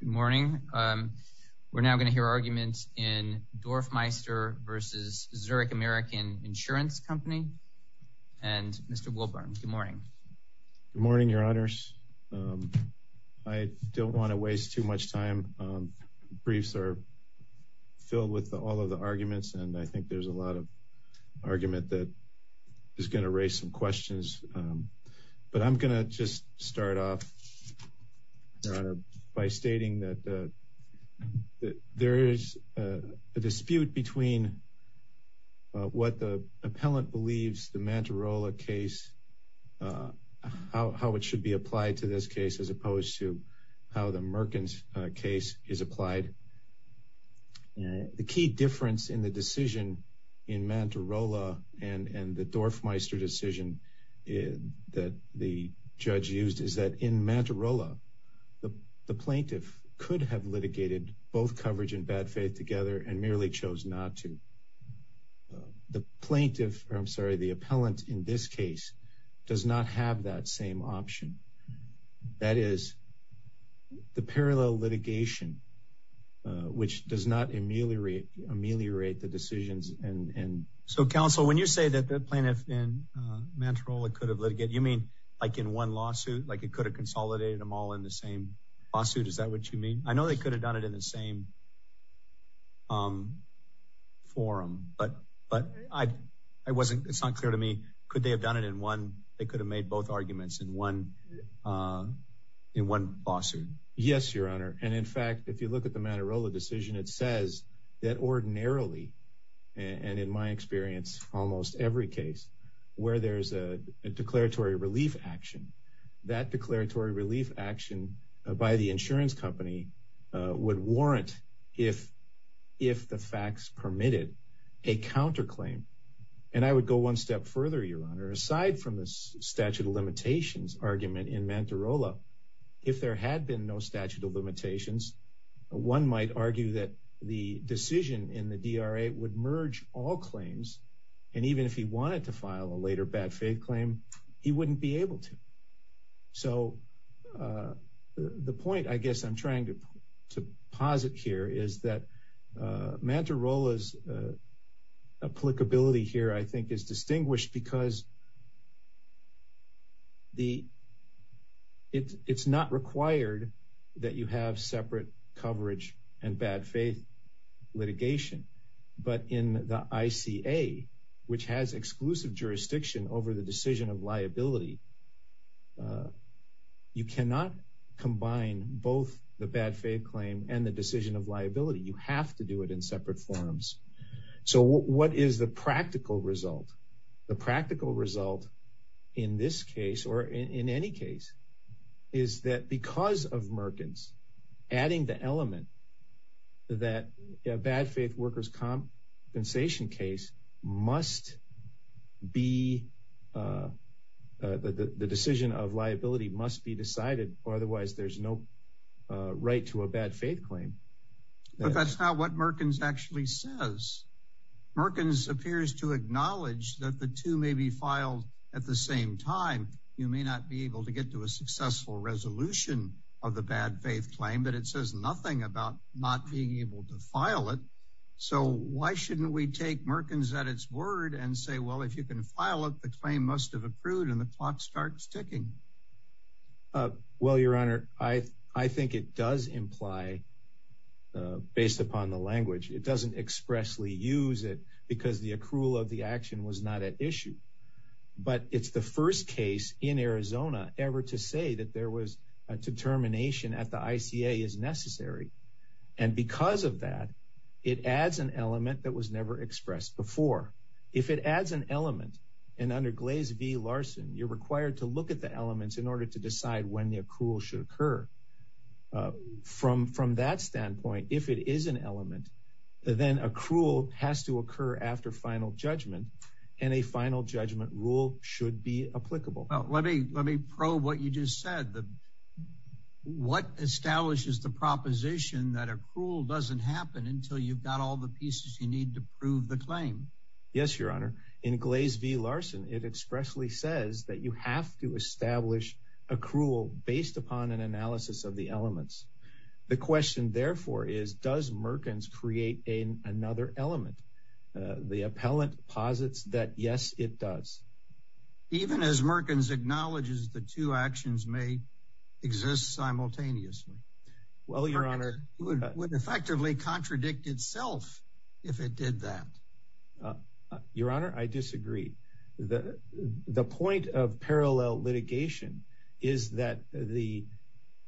Good morning. We're now going to hear arguments in Dorfmeister v. Zurich American Insurance Company and Mr. Wilburn. Good morning. Good morning, Your Honors. I don't want to waste too much time. Briefs are filled with all of the arguments, and I think there's a lot of argument that is going to raise some questions. But I'm going to just start off, Your Honor, by stating that there is a dispute between what the appellant believes the Manterola case, how it should be applied to this case, as opposed to how the Merkins case is applied. But the key difference in the decision in Manterola and the Dorfmeister decision that the judge used is that in Manterola, the plaintiff could have litigated both coverage and bad faith together and merely chose not to. The plaintiff, or I'm sorry, the appellant in this case does not have that same option. That is the parallel litigation, which does not ameliorate the decisions. And so, counsel, when you say that the plaintiff in Manterola could have litigated, you mean like in one lawsuit, like it could have consolidated them all in the same lawsuit? Is that what you mean? I know they could have done it in the same forum, but it's not clear to me. Could they have done it in one? They could have made both arguments in one in one lawsuit. Yes, Your Honor. And in fact, if you look at the Manterola decision, it says that ordinarily and in my experience, almost every case where there's a declaratory relief action, that declaratory relief action by the insurance company would warrant if if the facts permitted a counterclaim. And I would go one step further, Your Honor, aside from the statute of limitations argument in Manterola, if there had been no statute of limitations, one might argue that the decision in the DRA would merge all claims. And even if he wanted to file a later bad faith claim, he wouldn't be able to. So the point I guess I'm trying to to posit here is that Manterola's applicability here, I think, is distinguished because it's not required that you have separate coverage and bad faith litigation. But in the ICA, which has exclusive jurisdiction over the decision of liability, you cannot combine both the bad faith claim and the decision of liability. You have to do it in separate forums. So what is the practical result? The practical result in this case or in any case is that because of Merkins adding the element that a bad faith workers compensation case must be the decision of liability must be decided or otherwise there's no right to a bad faith claim. But that's not what Merkins actually says. Merkins appears to acknowledge that the two may be filed at the same time. You may not be able to get to a successful resolution of the bad faith claim, but it says nothing about not being able to file it. So why shouldn't we take Merkins at its word and say, well, if you can file it, the claim must have approved and the clock starts ticking? Well, your honor, I think it does imply, based upon the language, it doesn't expressly use it because the accrual of the action was not at issue. But it's the first case in Arizona ever to say that there was a determination at the ICA is necessary. And because of that, it adds an element that was never expressed before. If it adds an element and under Glaze v. Larson, you're required to look at the elements in order to decide when the accrual should occur. Uh, from from that standpoint, if it is an element, then accrual has to occur after final judgment and a final judgment rule should be applicable. Well, let me let me probe what you just said. What establishes the proposition that accrual doesn't happen until you've got all the pieces you need to prove the claim? Yes, your honor. In Glaze v. Larson, it expressly says that you have to establish accrual based upon an analysis of the elements. The question, therefore, is does Merkins create another element? The appellant posits that yes, it does. Even as Merkins acknowledges the two actions may exist simultaneously. Well, your honor, it would effectively contradict itself if it did that. Your honor, I disagree. The point of parallel litigation is that the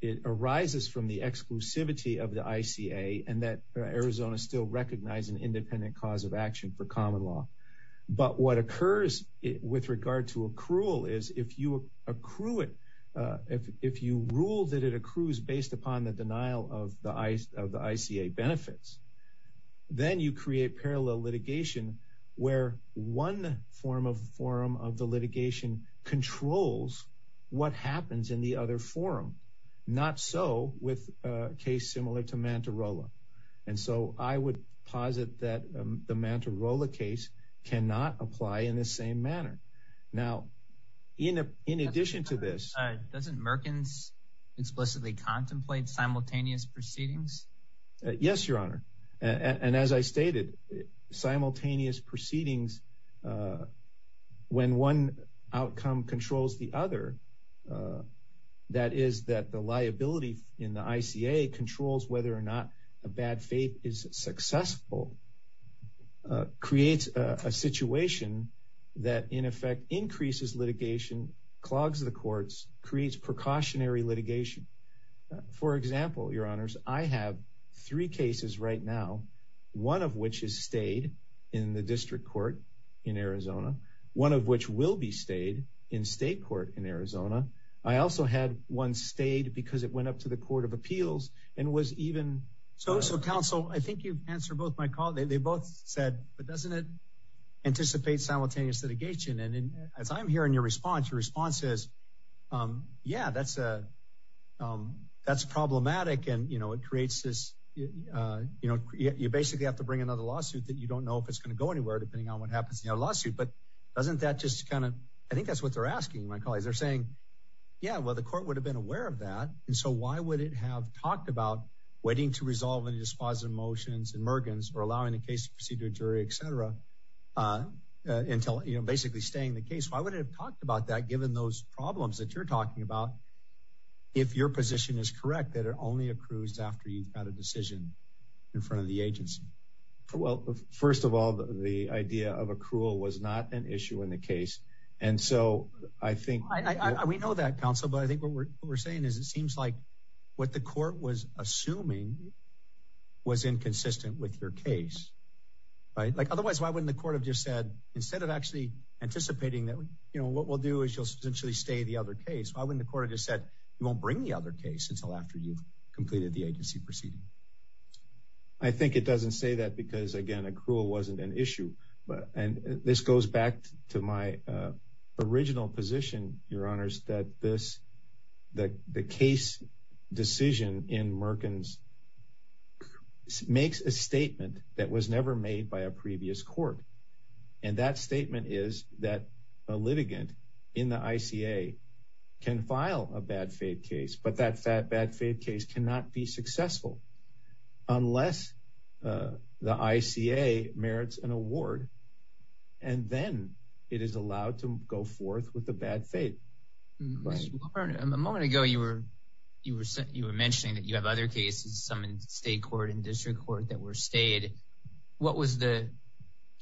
it arises from the exclusivity of the ICA and that Arizona still recognize an independent cause of action for common law. But what occurs with regard to accrual is if you accrue it, if you rule that it accrues based upon the denial of the of the ICA benefits, then you create parallel litigation where one form of forum of the litigation controls what happens in the other forum. Not so with a case similar to Mantarola. And so I would posit that the Mantarola case cannot apply in the same manner. Now, in addition to this, doesn't Merkins explicitly contemplate simultaneous proceedings? Yes, your honor. And as I stated, simultaneous proceedings, when one outcome controls the other, that is that the liability in the ICA controls whether or not a bad faith is successful, creates a situation that in effect increases litigation, clogs the courts, creates precautionary litigation. For example, your honors, I have three cases right now, one of which is stayed in the district court in Arizona, one of which will be stayed in state court in Arizona. I also had one stayed because it went up to the Court of Appeals and was even so. So, counsel, I think you answer both my call. They both said, but doesn't it anticipate simultaneous litigation? And as I'm hearing your response, your response is, yeah, that's a that's problematic. And, you know, it creates this, you know, you basically have to bring another lawsuit that you don't know if it's going to go anywhere, depending on what happens in your lawsuit. But doesn't that just kind of, I think that's what they're asking my colleagues. They're saying, yeah, well, the court would have been aware of that. And so why would it have talked about waiting to resolve any dispositive motions or allowing the case to proceed to a jury, et cetera, until, you know, basically staying the case? Why would it have talked about that, given those problems that you're talking about, if your position is correct, that it only accrues after you've got a decision in front of the agency? Well, first of all, the idea of accrual was not an issue in the case. And so I think we know that, counsel, but I think what we're saying is it seems like what the court was assuming was inconsistent with your case. Otherwise, why wouldn't the court have just said, instead of actually anticipating that, you know, what we'll do is you'll essentially stay the other case. Why wouldn't the court have just said, you won't bring the other case until after you've completed the agency proceeding? I think it doesn't say that because, again, accrual wasn't an issue. And this goes back to my original position, your honors, that the case decision in Merkins makes a statement that was never made by a previous court. And that statement is that a litigant in the ICA can file a bad faith case, but that bad faith case cannot be successful unless the ICA merits an award. And then it is allowed to go forth with the bad faith. A moment ago, you were mentioning that you have other cases, some in state court and district court that were stayed.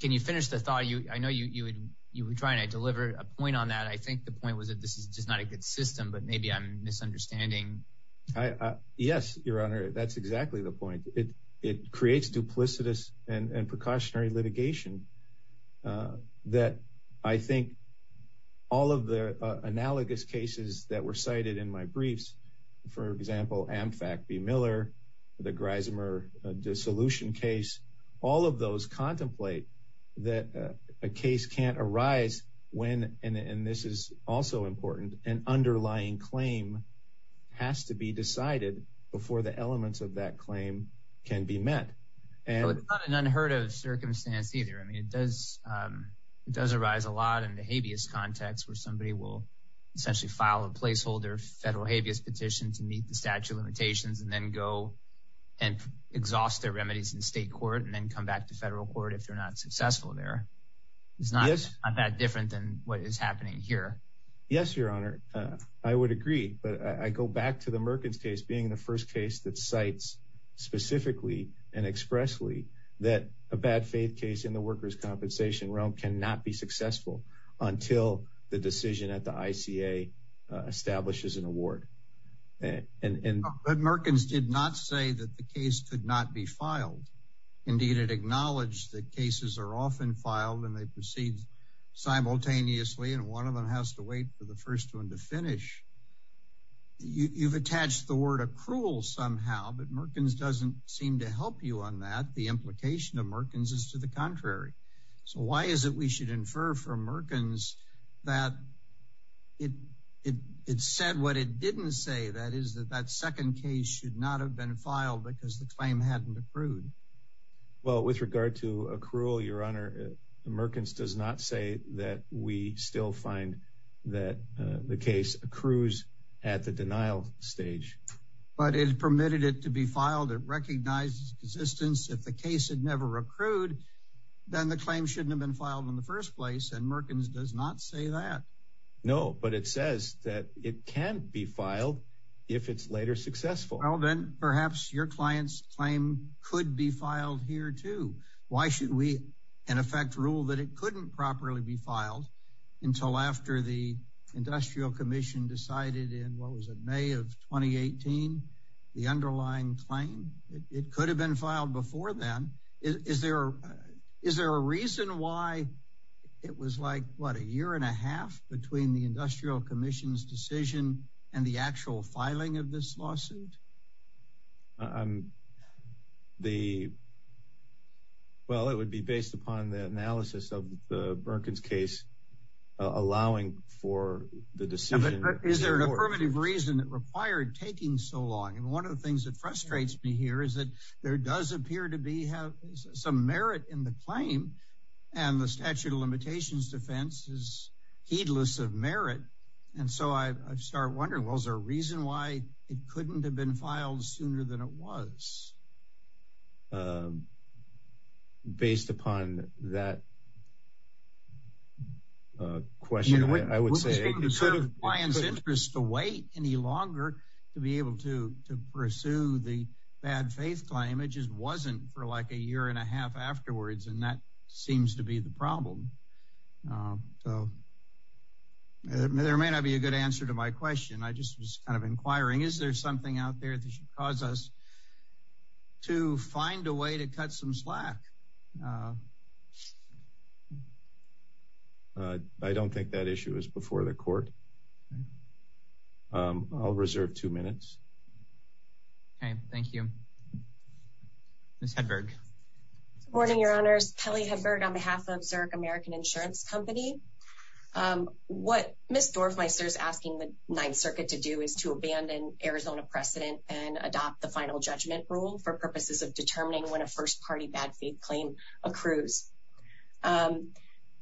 Can you finish the thought? I know you were trying to deliver a point on that. I think the point was that this is just not a good system, but maybe I'm the point. It creates duplicitous and precautionary litigation that I think all of the analogous cases that were cited in my briefs, for example, Amfac v. Miller, the Grismer dissolution case, all of those contemplate that a case can't arise when, and this is also important, an underlying claim has to be decided before the elements of that claim can be met. It's not an unheard of circumstance either. It does arise a lot in the habeas context where somebody will essentially file a placeholder federal habeas petition to meet the statute of limitations and then go and exhaust their remedies in state court and then come back to federal court if they're not successful there. It's not that different than what is happening here. Yes, your honor. I would agree, but I go back to the Merkins case, being the first case that cites specifically and expressly that a bad faith case in the workers' compensation realm cannot be successful until the decision at the ICA establishes an award. But Merkins did not say that the case could not be filed. Indeed, it acknowledged that cases are often filed and they proceed simultaneously and one of them has to wait for the first one to finish. You've attached the word accrual somehow, but Merkins doesn't seem to help you on that. The implication of Merkins is to the contrary. So why is it we should infer from Merkins that it said what it didn't say, that is that that second case should not have been filed because the claim hadn't accrued? Well, with regard to accrual, your honor, Merkins does not say that we still find that the case accrues at the denial stage. But it permitted it to be filed. It recognized its existence. If the case had never accrued, then the claim shouldn't have been filed in the first place and Merkins does not say that. No, but it says that it can be filed if it's later successful. Well, then perhaps your client's claim could be filed here too. Why should we, in effect, rule that it couldn't properly be filed until after the Industrial Commission decided in what was it, May of 2018, the underlying claim? It could have been filed before then. Is there a reason why it was like, what, a year and a half between the Industrial Commission's decision and the actual filing of this lawsuit? The, well, it would be based upon the analysis of the Merkins case allowing for the decision. But is there an affirmative reason that required taking so long? And one of the things that frustrates me here is that there does appear to be some merit in the claim and the statute of limitations defense is heedless of merit. And so I start wondering, well, is there a reason why it couldn't have been filed sooner than it was? Based upon that question, I would say. It was in the client's interest to wait any longer to be able to pursue the bad faith claim. It just wasn't for like a year and a half afterwards and that seems to be the problem. So there may not be a good answer to my question. I just was kind of inquiring, is there something out there that should cause us to find a way to cut some slack? I don't think that issue is before the court. I'll reserve two minutes. Okay, thank you. Ms. Hedberg. Good morning, your honors. Kelly Hedberg on behalf of Zurich American Insurance Company. What Ms. Dorfmeister is asking the Ninth Circuit to do is to abandon Arizona precedent and adopt the final judgment rule for purposes of determining when a first party bad faith claim accrues.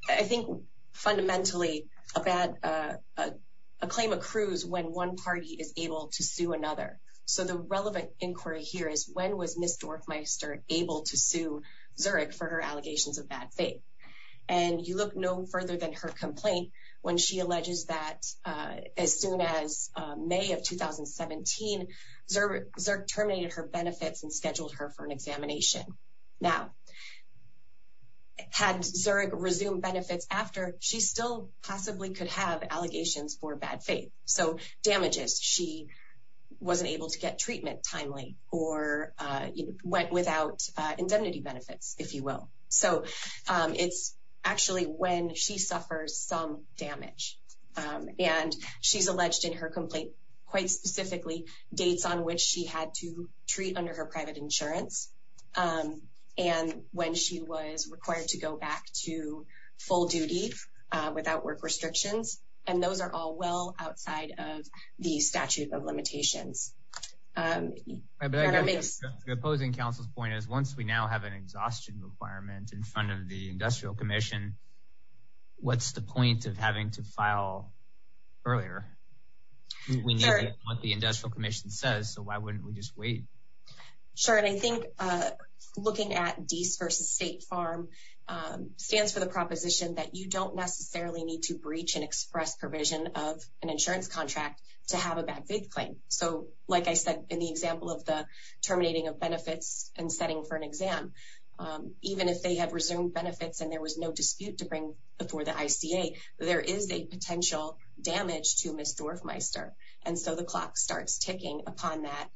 I think fundamentally a bad, a claim accrues when one party is able to sue another. So the relevant inquiry here is when was Ms. Dorfmeister able to sue Zurich for her allegations of bad faith? And you look no further than her complaint when she alleges that as soon as May of 2017, Zurich terminated her benefits and scheduled her for an examination. Now, had Zurich resumed benefits after, she still possibly could have allegations for bad faith. So damages, she wasn't able to get treatment timely or went without indemnity benefits, if you will. So it's actually when she suffers some damage. And she's alleged in her complaint, quite specifically, dates on which she had to treat under her private insurance. And when she was required to go back to full duty without work restrictions. And those are all well outside of the statute of limitations. The opposing counsel's point is once we now have an exhaustion requirement in front of the Industrial Commission, what's the point of having to file earlier? We know what the Industrial Commission says, so why wouldn't we just wait? Sure. And I think looking at Dease versus State Farm stands for the proposition that you don't necessarily need to breach and express provision of an insurance contract to have a bad faith claim. So like I said, in the example of the terminating of benefits and setting for an exam, even if they had resumed benefits and there was no dispute to bring before the ICA, there is a potential damage to Ms. Dorfmeister. And so the clock starts ticking upon that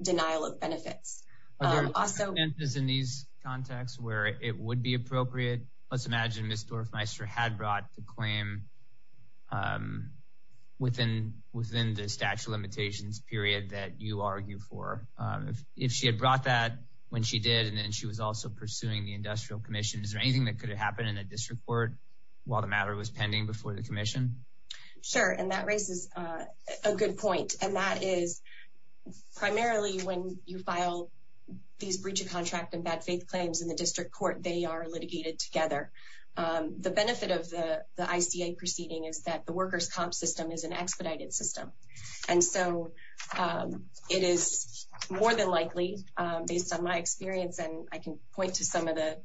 denial of benefits. Also, in these contexts where it would be appropriate, let's imagine Ms. Dorfmeister had brought the claim within the statute of limitations period that you argue for. If she had brought that when she did and then she was also pursuing the Industrial Commission, is there anything that could have happened in a district court while the matter was pending before the commission? Sure. And that raises a good point. And that is primarily when you file these breach of contract and bad faith claims in the district court, they are litigated together. The benefit of the ICA proceeding is that the workers comp system is an expedited system. And so it is more than likely, based on my experience, and I can point to some of the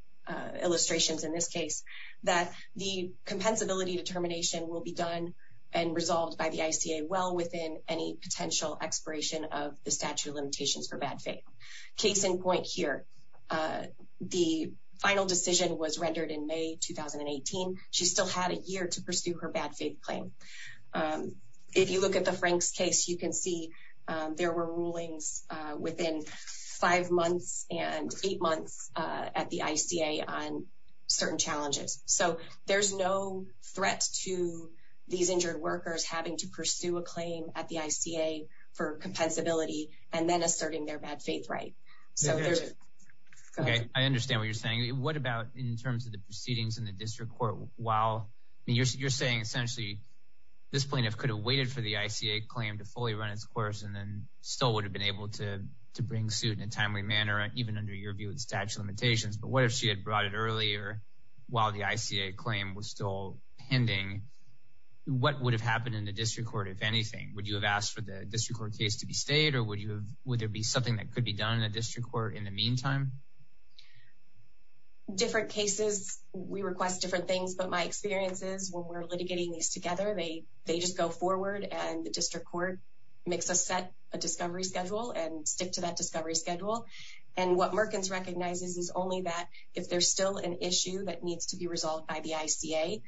illustrations in this case, that the compensability determination will be done and resolved by the ICA well within any potential expiration of the statute of limitations. So there's no threat to these injured workers having to pursue a claim at the ICA for compensability and then asserting their bad faith right. So I understand what you're saying. What about in terms of the proceedings in the district court? While you're saying essentially this plaintiff could have waited for the ICA claim to fully run its course and then still would have been able to bring suit in a timely manner, even under your view with statute of limitations. But what if she had brought it earlier while the ICA claim was still pending? What would have happened in the district court, if anything? Would you have asked for the district court case to be stayed or would there be something that could be done in a district court in the meantime? Different cases, we request different things. But my experience is when we're litigating these together, they just go forward and the district court makes us set a discovery schedule and stick to that discovery schedule. And what Merkins recognizes is only that if there's still an issue that needs to be resolved by the ICA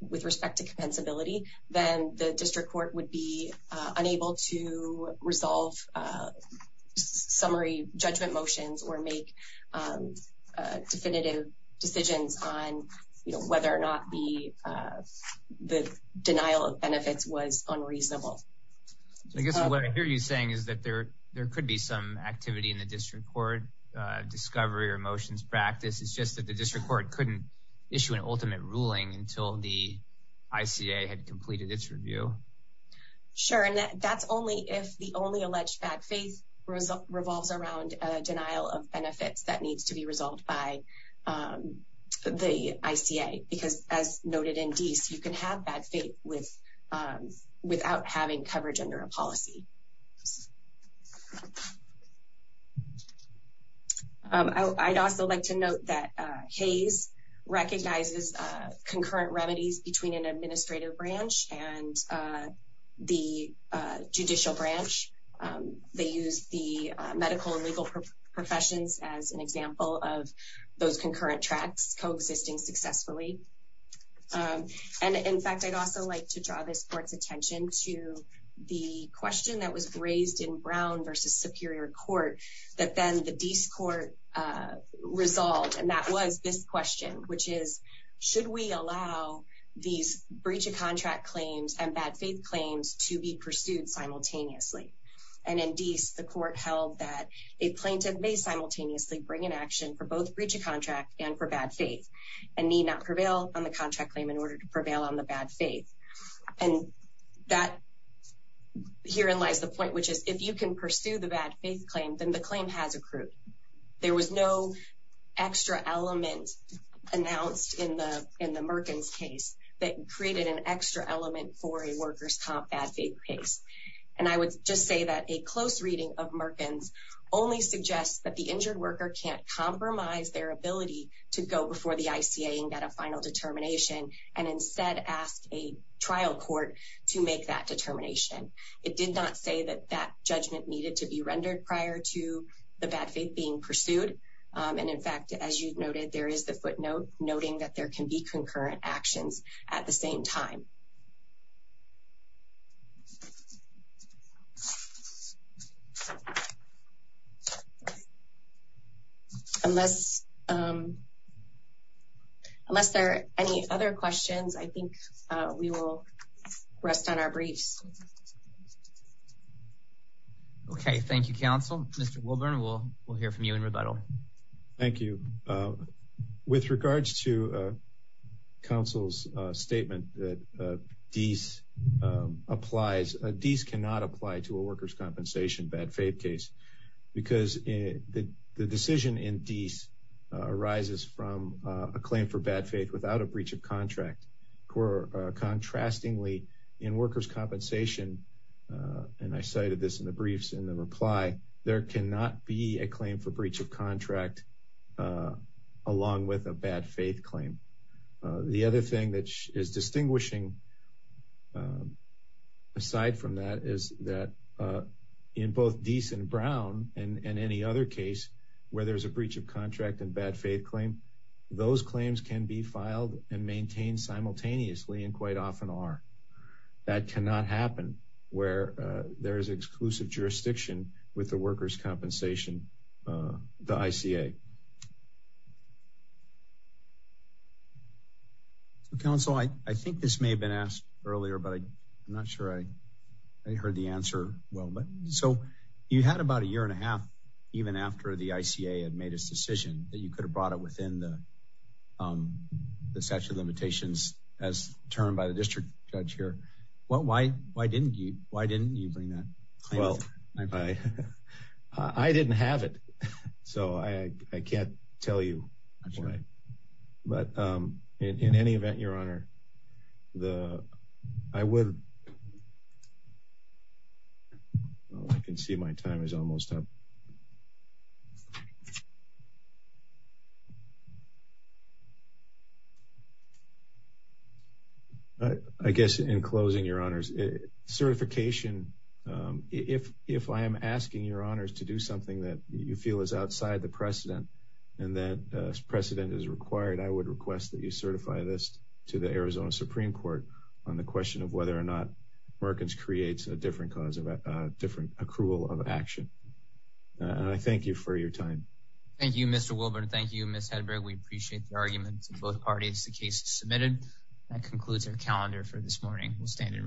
with respect to compensability, then the district court would be unable to resolve summary judgment motions or make definitive decisions on whether or not the denial of benefits was unreasonable. I guess what I hear you saying is that there could be some activity in the district court discovery or motions practice. It's just that the district court couldn't issue an ultimate ruling until the ICA had completed its review. Sure. And that's only if the only alleged bad faith revolves around a denial of benefits that needs to be resolved by the ICA. Because as noted in Dease, you can have bad faith without having coverage under a policy. I'd also like to note that Hayes recognizes concurrent remedies between an administrative branch and the judicial branch. They use the medical and legal professions as an example of those concurrent tracks coexisting successfully. And in fact, I'd also like to draw this court's the question that was raised in Brown versus Superior Court that then the Dease court resolved. And that was this question, which is, should we allow these breach of contract claims and bad faith claims to be pursued simultaneously? And in Dease, the court held that a plaintiff may simultaneously bring an action for both breach of contract and for bad faith and need not prevail on the contract claim in order to prevail on the bad faith. And that herein lies the point, which is if you can pursue the bad faith claim, then the claim has accrued. There was no extra element announced in the Merkins case that created an extra element for a worker's top bad faith case. And I would just say that a close reading of Merkins only suggests that the injured and instead asked a trial court to make that determination. It did not say that that judgment needed to be rendered prior to the bad faith being pursued. And in fact, as you noted, there is the footnote noting that there can be concurrent actions at the same time. Unless there are any other questions, I think we will rest on our briefs. Okay, thank you, counsel. Mr. Wilburn, we'll hear from you in rebuttal. Thank you. With regards to counsel's statement that Dease applies, Dease cannot apply to a worker's compensation bad faith case because the decision in Dease arises from a claim for bad faith without a breach of contract. Contrastingly, in worker's compensation, and I cited this in the briefs in the reply, there cannot be a claim for breach of contract along with a bad faith claim. The other thing that is distinguishing aside from that is that in both Dease and Brown and any other case where there's a breach of contract and bad faith claim, those claims can be filed and maintained simultaneously and quite often are. That cannot happen where there is exclusive jurisdiction with the worker's compensation, the ICA. Counsel, I think this may have been asked earlier, but I'm not sure I heard the answer well. So you had about a year and a half even after the ICA had made its decision that you could have brought it within the statute of limitations as termed by the district judge here. Why didn't you? Why didn't you bring that? Well, I didn't have it, so I can't tell you. But in any event, your honor, I would. Well, I can see my time is almost up. I guess in closing, your honors, certification, if I am asking your honors to do something that you feel is outside the precedent and that precedent is required, I would request that you certify this to the Arizona Supreme Court on the question of whether or not Perkins creates a different cause of a different accrual of action. And I thank you for your time. Thank you, Mr. Wilburn. Thank you, Ms. Hedberg. We appreciate the arguments of both parties. The case is submitted. That concludes our calendar for this morning. We'll stand in recess.